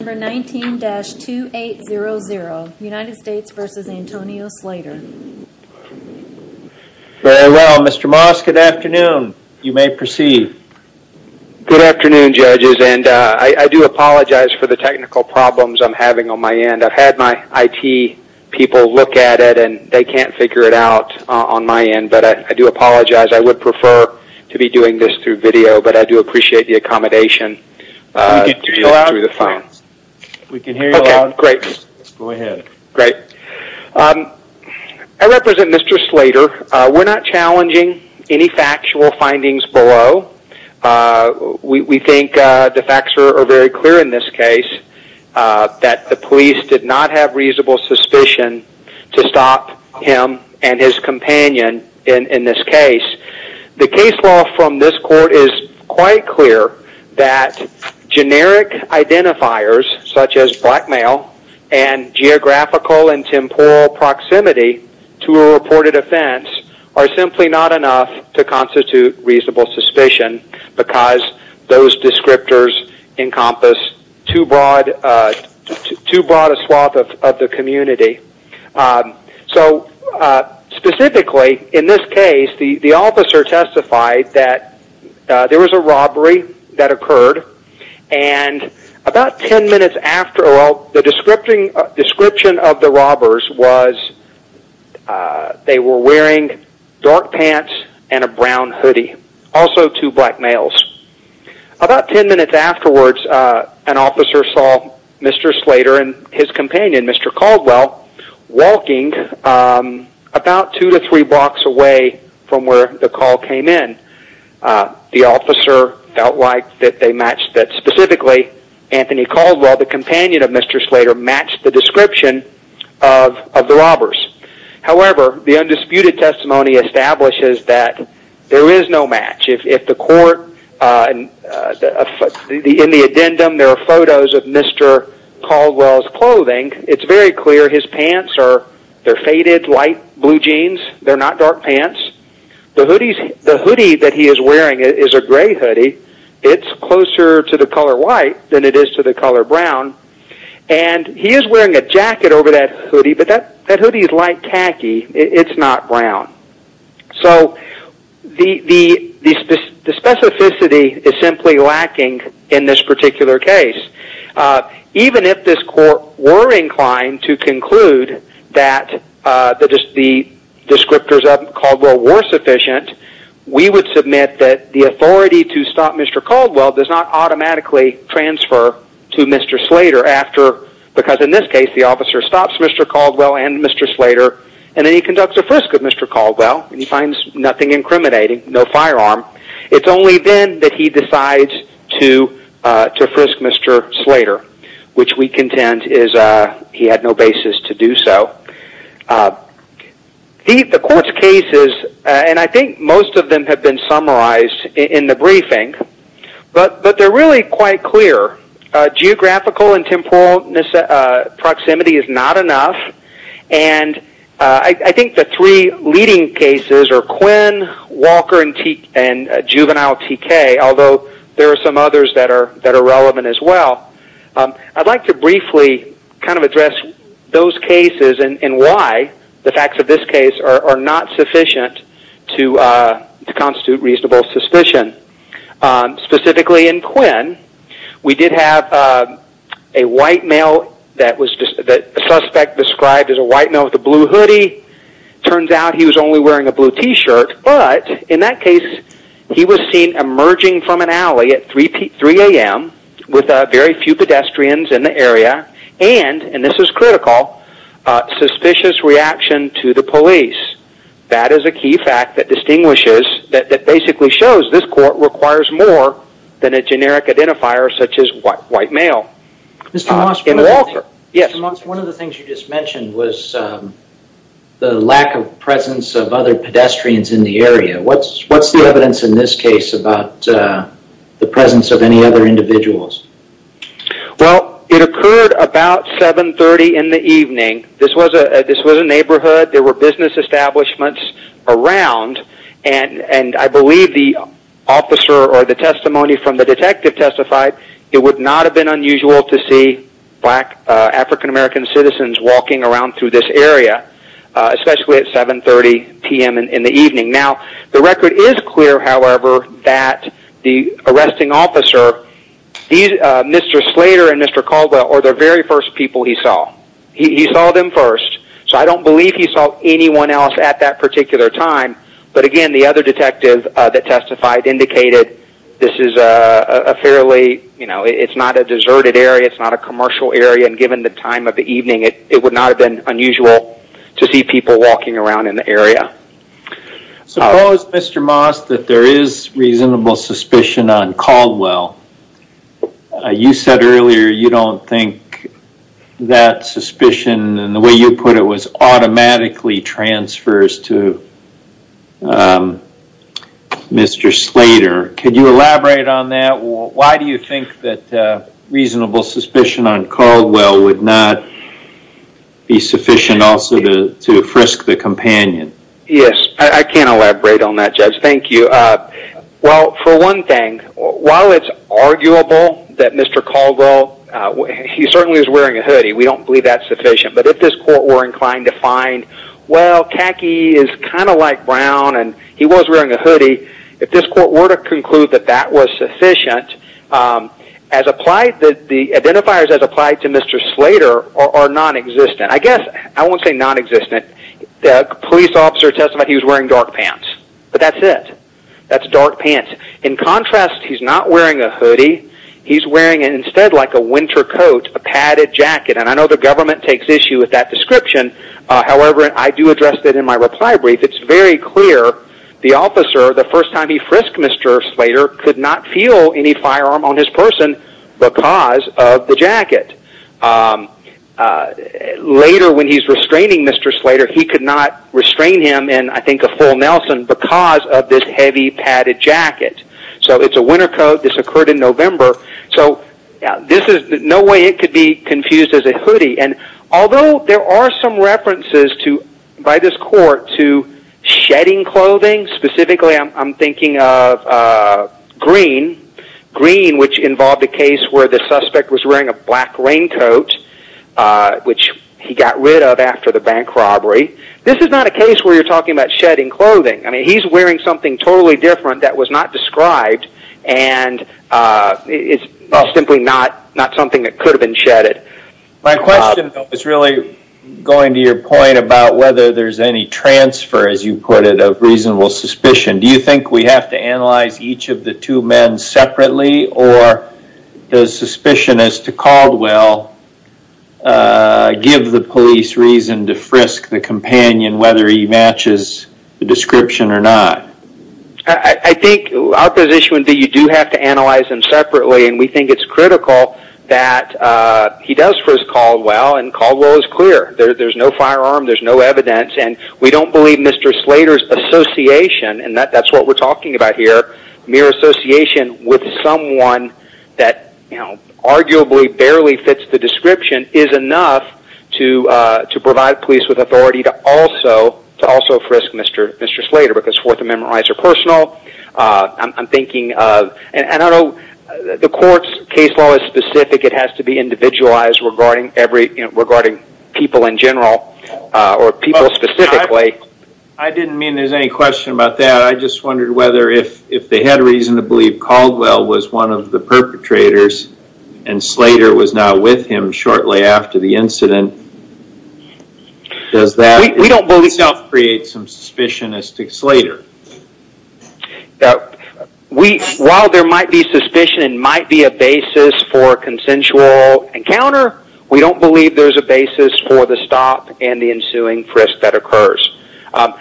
Very well, Mr. Moss, good afternoon. You may proceed. Good afternoon, judges, and I do apologize for the technical problems I'm having on my end. I've had my IT people look at it and they can't figure it out on my end, but I do apologize. I would prefer to be doing this through video, but I do appreciate the accommodation. I represent Mr. Slater. We're not challenging any factual findings below. We think the facts are very clear in this case, that the police did not have reasonable suspicion to stop him and his companion in this case. The case law from this court is quite clear that generic identifiers such as blackmail and geographical and temporal proximity to a reported offense are simply not enough to constitute reasonable suspicion because those descriptors encompass too broad a swath of the community. Specifically, in this case, the officer testified that there was a robbery that occurred and about ten minutes after, the description of the robbers was they were wearing dark pants and a brown hoodie. Also two black males. About ten minutes afterwards, an officer saw Mr. Slater and his companion, Mr. Caldwell, walking about two to three blocks away from where the call came in. The officer felt like they matched that specifically. Anthony Caldwell, the companion of Mr. Slater, matched the description of the robbers. However, the undisputed testimony establishes that there is no match. In the addendum, there are photos of Mr. Caldwell's clothing. It's very clear his pants are faded, light blue jeans. They're not dark pants. The hoodie that he is wearing is a gray hoodie. It's closer to the color white than it is to the color brown. And he is wearing a jacket over that hoodie, but that hoodie is light khaki. It's not brown. So the specificity is simply lacking in this particular case. Even if this court were inclined to conclude that the descriptors of Caldwell were sufficient, we would submit that the authority to stop Mr. Caldwell does not automatically transfer to Mr. Slater because, in this case, the officer stops Mr. Caldwell and Mr. Slater, and then he conducts a frisk of Mr. Caldwell, and he finds nothing incriminating, no firearm. It's only then that he decides to frisk Mr. Slater, which we contend he had no basis to do so. The court's cases, and I think most of them have been summarized in the briefing, but they're really quite clear. Geographical and temporal proximity is not enough, and I think the three leading cases are Quinn, Walker, and Juvenile TK, although there are some others that are relevant as well. I'd like to briefly kind of address those cases and why the facts of this case are not sufficient to constitute reasonable suspicion. Specifically in Quinn, we did have a white male that the suspect described as a white male with a blue hoodie. It turns out he was only wearing a blue T-shirt, but in that case, he was seen emerging from an alley at 3 a.m. with very few pedestrians in the area, and, and this is critical, suspicious reaction to the police. That is a key fact that basically shows this court requires more than a generic identifier such as white male. Mr. Moss, one of the things you just mentioned was the lack of presence of other pedestrians in the area. What's the evidence in this case about the presence of any other individuals? Well, it occurred about 7.30 in the evening. This was a neighborhood. There were business establishments around, and I believe the officer or the testimony from the detective testified it would not have been unusual to see black African American citizens walking around through this area, especially at 7.30 p.m. in the evening. Now, the record is clear, however, that the arresting officer, Mr. Slater and Mr. Calder, are the very first people he saw. He saw them first, so I don't believe he saw anyone else at that particular time, but again, the other detective that testified indicated this is a fairly, you know, it's not a deserted area, it's not a commercial area, and given the time of the evening, it would not have been unusual to see people walking around in the area. Suppose, Mr. Moss, that there is reasonable suspicion on Caldwell. You said earlier you don't think that suspicion, and the way you put it was automatically transfers to Mr. Slater. Could you elaborate on that? Why do you think that reasonable suspicion on Caldwell would not be sufficient also to frisk the companion? Yes, I can elaborate on that, Judge. Thank you. Well, for one thing, while it's arguable that Mr. Caldwell, he certainly was wearing a hoodie, we don't believe that's sufficient, but if this court were inclined to find, well, Kaki is kind of like Brown and he was wearing a hoodie, if this court were to conclude that that was sufficient, the identifiers as applied to Mr. Slater are nonexistent. I guess I won't say nonexistent. The police officer testified he was wearing dark pants, but that's it. That's dark pants. In contrast, he's not wearing a hoodie. He's wearing instead like a winter coat, a padded jacket, and I know the government takes issue with that description. However, I do address that in my reply brief. It's very clear the officer, the first time he frisked Mr. Slater, could not feel any firearm on his person because of the jacket. Later when he's restraining Mr. Slater, he could not restrain him, and I think a full Nelson, because of this heavy padded jacket. So it's a winter coat. This occurred in November. So this is no way it could be confused as a hoodie, and although there are some references by this court to shedding clothing, specifically I'm thinking of green, green which involved a case where the suspect was wearing a black raincoat, which he got rid of after the bank robbery. This is not a case where you're talking about shedding clothing. He's wearing something totally different that was not described, and it's simply not something that could have been shedded. My question is really going to your point about whether there's any transfer, as you put it, of reasonable suspicion. Do you think we have to analyze each of the two men separately, or does suspicion as to Caldwell give the police reason to frisk the companion whether he matches the description or not? I think our position would be you do have to analyze them separately, and we think it's critical that he does frisk Caldwell, and Caldwell is clear. There's no firearm. There's no evidence, and we don't believe Mr. Slater's association, and that's what we're talking about here, mere association with someone that arguably barely fits the description is enough to provide police with authority to also frisk Mr. Slater because Fourth Amendment rights are personal. I'm thinking of, and I know the court's case law is specific. It has to be individualized regarding people in general or people specifically. I didn't mean there's any question about that. I just wondered whether if they had a reason to believe Caldwell was one of the perpetrators and Slater was not with him shortly after the incident. Does that itself create some suspicion as to Slater? While there might be suspicion and might be a basis for a consensual encounter, we don't believe there's a basis for the stop and the ensuing frisk that occurs. I'm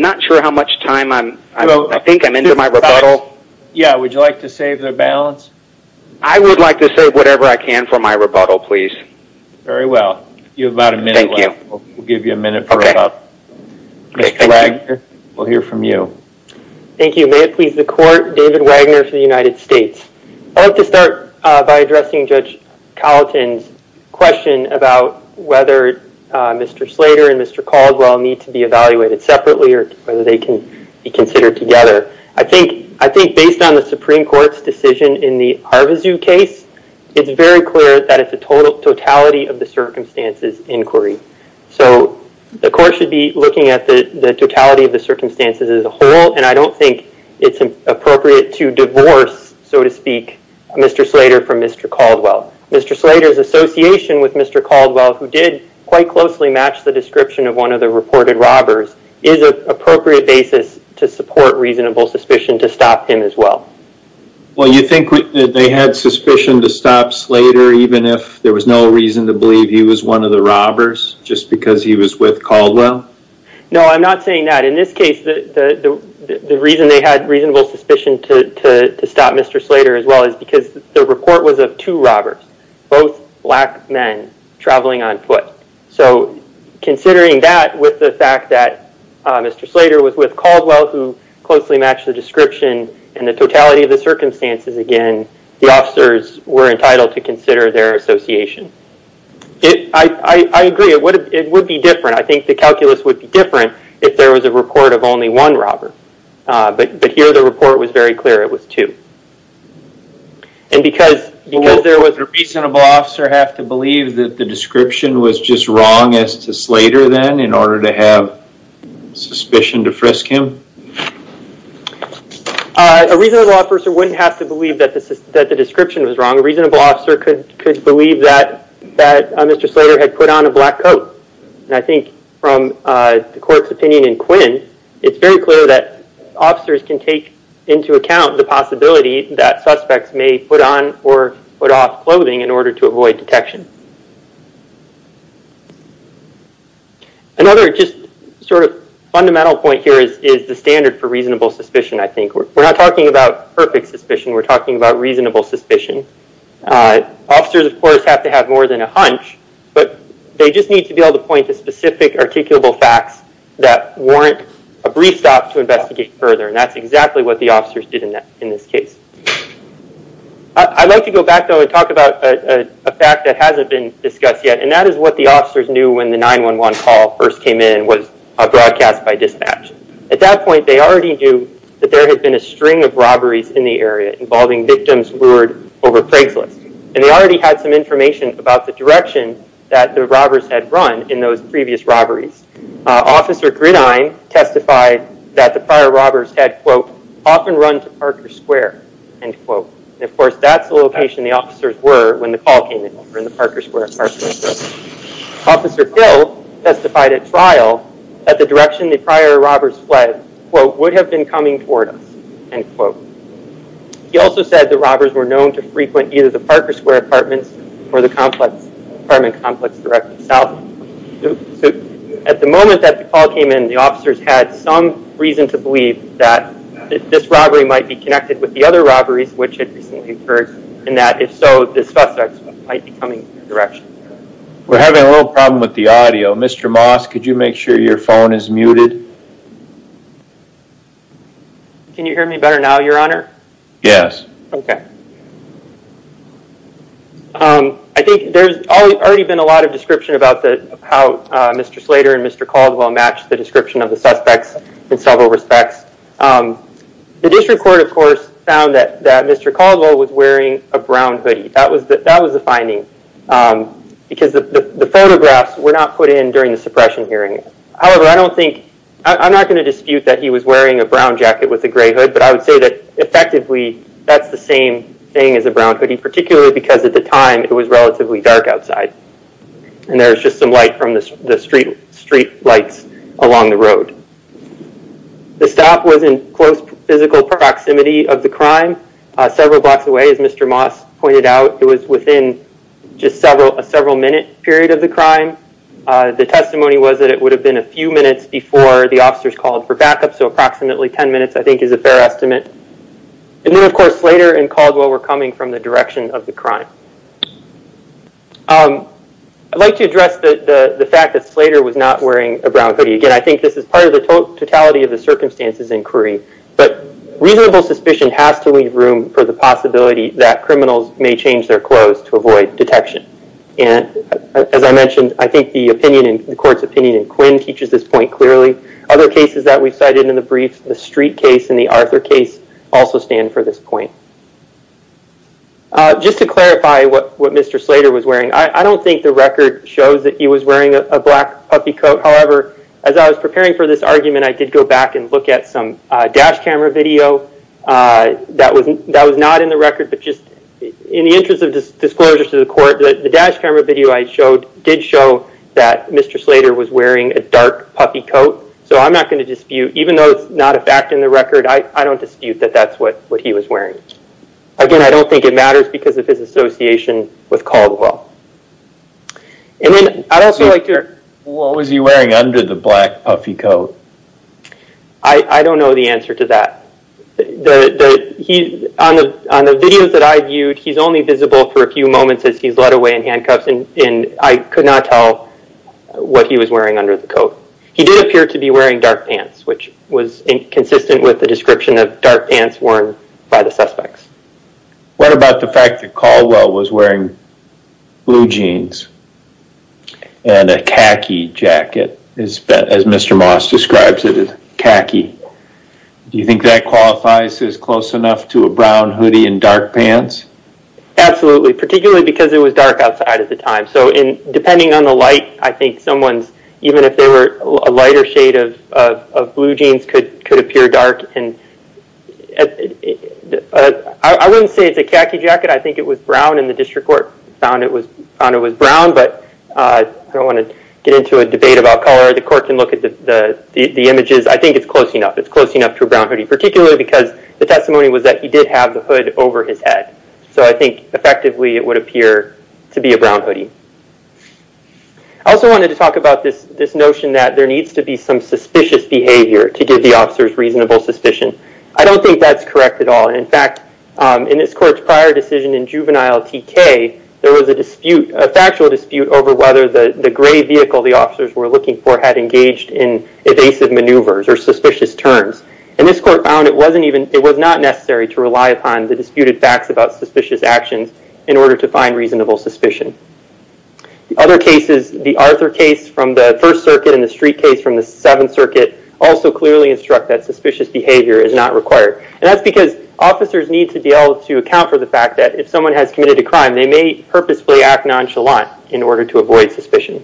not sure how much time I'm, I think I'm into my rebuttal. Yeah, would you like to save the balance? I would like to save whatever I can for my rebuttal, please. Very well. You have about a minute left. Thank you. We'll give you a minute for about, Mr. Wagner, we'll hear from you. Thank you. May it please the court, David Wagner for the United States. I'd like to start by addressing Judge Colleton's question about whether Mr. Slater and Mr. Caldwell need to be evaluated separately or whether they can be considered together. I think based on the Supreme Court's decision in the Harvazoo case, it's very clear that it's a totality of the circumstances inquiry. So the court should be looking at the totality of the circumstances as a whole, and I don't think it's appropriate to divorce, so to speak, Mr. Slater from Mr. Caldwell. Mr. Slater's association with Mr. Caldwell, who did quite closely match the description of one of the reported robbers, is an appropriate basis to support reasonable suspicion to stop him as well. Well, you think they had suspicion to stop Slater even if there was no reason to believe he was one of the robbers just because he was with Caldwell? No, I'm not saying that. In this case, the reason they had reasonable suspicion to stop Mr. Slater as well is because the report was of two robbers, both black men traveling on foot. So considering that with the fact that Mr. Slater was with Caldwell who closely matched the description and the totality of the circumstances, again, the officers were entitled to consider their association. I agree. It would be different. I think the calculus would be different if there was a report of only one robber, but here the report was very clear it was two. And because there was... Would a reasonable officer have to believe that the description was just wrong as to Slater then in order to have suspicion to frisk him? A reasonable officer wouldn't have to believe that the description was wrong. A reasonable officer could believe that Mr. Slater had put on a black coat. And I think from the court's opinion in Quinn, it's very clear that officers can take into account the possibility that suspects may put on or put off clothing in order to avoid detection. Another just sort of fundamental point here is the standard for reasonable suspicion, I think. We're not talking about perfect suspicion. We're talking about reasonable suspicion. Officers, of course, have to have more than a hunch, but they just need to be able to point to specific articulable facts that warrant a brief stop to investigate further, and that's exactly what the officers did in this case. I'd like to go back, though, and talk about a fact that hasn't been discussed yet, and that is what the officers knew when the 911 call first came in was broadcast by dispatch. At that point, they already knew that there had been a string of robberies in the area involving victims lured over Craigslist, and they already had some information about the direction that the robbers had run in those previous robberies. Officer Grine testified that the prior robbers had, quote, often run to Parker Square, end quote. And, of course, that's the location the officers were when the call came in, in the Parker Square apartment building. Officer Hill testified at trial that the direction the prior robbers fled, quote, would have been coming toward us, end quote. He also said the robbers were known to frequent either the Parker Square apartments or the apartment complex directly south. At the moment that the call came in, the officers had some reason to believe that this robbery might be connected with the other robberies which had recently occurred, and that, if so, this suspect might be coming in that direction. We're having a little problem with the audio. Mr. Moss, could you make sure your phone is muted? Can you hear me better now, Your Honor? Yes. Okay. I think there's already been a lot of description about how Mr. Slater and Mr. Caldwell matched the description of the suspects in several respects. The district court, of course, found that Mr. Caldwell was wearing a brown hoodie. That was the finding because the photographs were not put in during the suppression hearing. However, I don't think, I'm not going to dispute that he was wearing a brown jacket with a gray hood, but I would say that, effectively, that's the same thing as a brown hoodie, particularly because, at the time, it was relatively dark outside and there was just some light from the street lights along the road. The stop was in close physical proximity of the crime, several blocks away, as Mr. Moss pointed out. It was within just a several-minute period of the crime. The testimony was that it would have been a few minutes before the officers called for backup, so approximately 10 minutes, I think, is a fair estimate. And then, of course, Slater and Caldwell were coming from the direction of the crime. I'd like to address the fact that Slater was not wearing a brown hoodie. Again, I think this is part of the totality of the circumstances inquiry, but reasonable suspicion has to leave room for the possibility that criminals may change their clothes to avoid detection. As I mentioned, I think the court's opinion in Quinn teaches this point clearly. Other cases that we've cited in the briefs, the Street case and the Arthur case, also stand for this point. Just to clarify what Mr. Slater was wearing, I don't think the record shows that he was wearing a black puffy coat. However, as I was preparing for this argument, I did go back and look at some dash camera video. That was not in the record, but just in the interest of disclosure to the court, the dash camera video I showed did show that Mr. Slater was wearing a dark puffy coat. So I'm not going to dispute, even though it's not a fact in the record, I don't dispute that that's what he was wearing. Again, I don't think it matters because of his association with Caldwell. I'd also like to... What was he wearing under the black puffy coat? I don't know the answer to that. On the videos that I viewed, he's only visible for a few moments as he's led away in handcuffs, and I could not tell what he was wearing under the coat. He did appear to be wearing dark pants, which was inconsistent with the description of dark pants worn by the suspects. What about the fact that Caldwell was wearing blue jeans and a khaki jacket, as Mr. Moss describes it, khaki? Do you think that qualifies as close enough to a brown hoodie and dark pants? Absolutely, particularly because it was dark outside at the time. So depending on the light, I think someone's, even if they were a lighter shade of blue jeans, could appear dark. I wouldn't say it's a khaki jacket. I think it was brown, and the district court found it was brown, but I don't want to get into a debate about color. The court can look at the images. I think it's close enough. It's close enough to a brown hoodie, particularly because the testimony was that he did have the hood over his head. So I think, effectively, it would appear to be a brown hoodie. I also wanted to talk about this notion that there needs to be some suspicious behavior to give the officers reasonable suspicion. I don't think that's correct at all. In fact, in this court's prior decision in juvenile TK, there was a dispute, a factual dispute, over whether the gray vehicle the officers were looking for had engaged in evasive maneuvers or suspicious turns. And this court found it was not necessary to rely upon the disputed facts about suspicious actions in order to find reasonable suspicion. Other cases, the Arthur case from the First Circuit and the Street case from the Seventh Circuit, also clearly instruct that suspicious behavior is not required. And that's because officers need to be able to account for the fact that if someone has committed a crime, they may purposefully act nonchalant in order to avoid suspicion.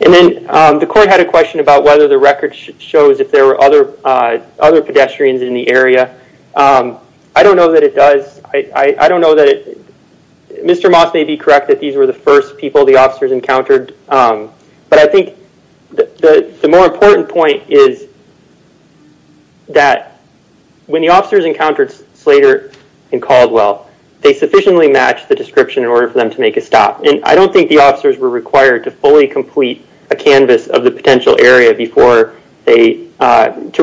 And then the court had a question about whether the record shows if there were other pedestrians in the area. I don't know that it does. I don't know that it... Mr. Moss may be correct that these were the first people the officers encountered. But I think the more important point is that when the officers encountered Slater and Caldwell, they sufficiently matched the description in order for them to make a stop. And I don't think the officers were required to fully complete a canvas of the potential area to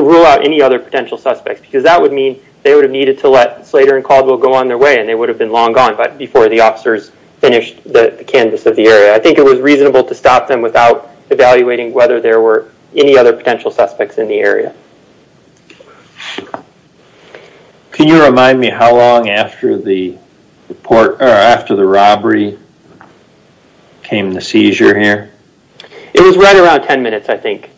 rule out any other potential suspects, because that would mean they would have needed to let Slater and Caldwell go on their way and they would have been long gone before the officers finished the canvas of the area. I think it was reasonable to stop them without evaluating whether there were any other potential suspects in the area. Can you remind me how long after the robbery came the seizure here? It was right around 10 minutes, I think.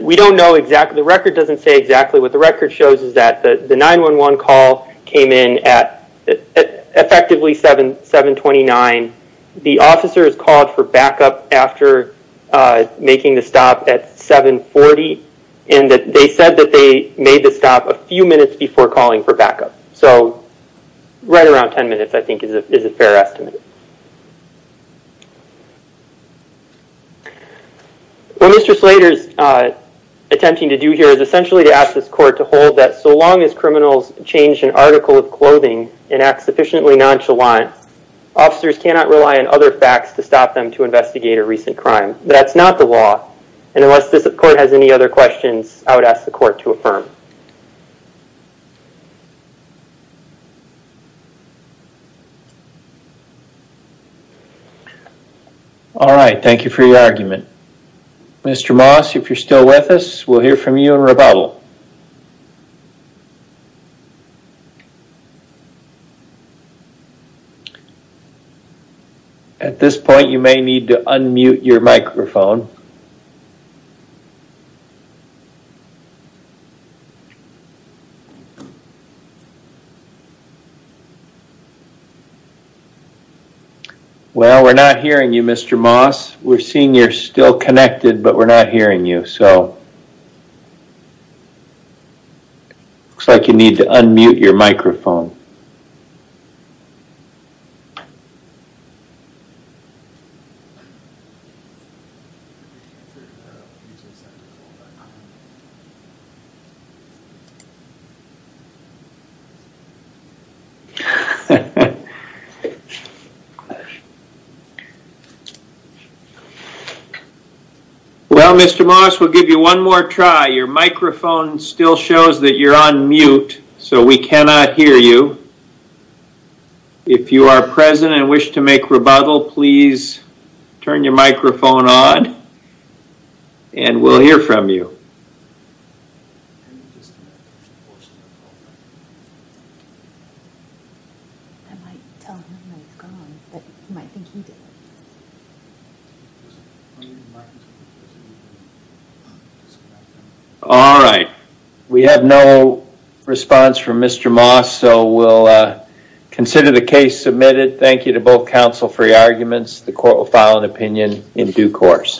We don't know exactly. The record doesn't say exactly. What the record shows is that the 911 call came in at effectively 7.29. The officers called for backup after making the stop at 7.40. And they said that they made the stop a few minutes before calling for backup. So right around 10 minutes, I think, is a fair estimate. What Mr. Slater is attempting to do here is essentially to ask this court to hold that so long as criminals change an article of clothing and act sufficiently nonchalant, officers cannot rely on other facts to stop them to investigate a recent crime. That's not the law. And unless this court has any other questions, I would ask the court to affirm. All right, thank you for your argument. Mr. Moss, if you're still with us, we'll hear from you in rebuttal. At this point, you may need to unmute your microphone. Well, we're not hearing you, Mr. Moss. We're seeing you're still connected, but we're not hearing you. So it looks like you need to unmute your microphone. Well, Mr. Moss, we'll give you one more try. Your microphone still shows that you're on mute, so we cannot hear you. If you are present and wish to make rebuttal, please turn your microphone on, and we'll hear from you. All right, we have no response from Mr. Moss, so we'll consider the case submitted. Thank you to both counsel for your arguments. The court will file an opinion in due course.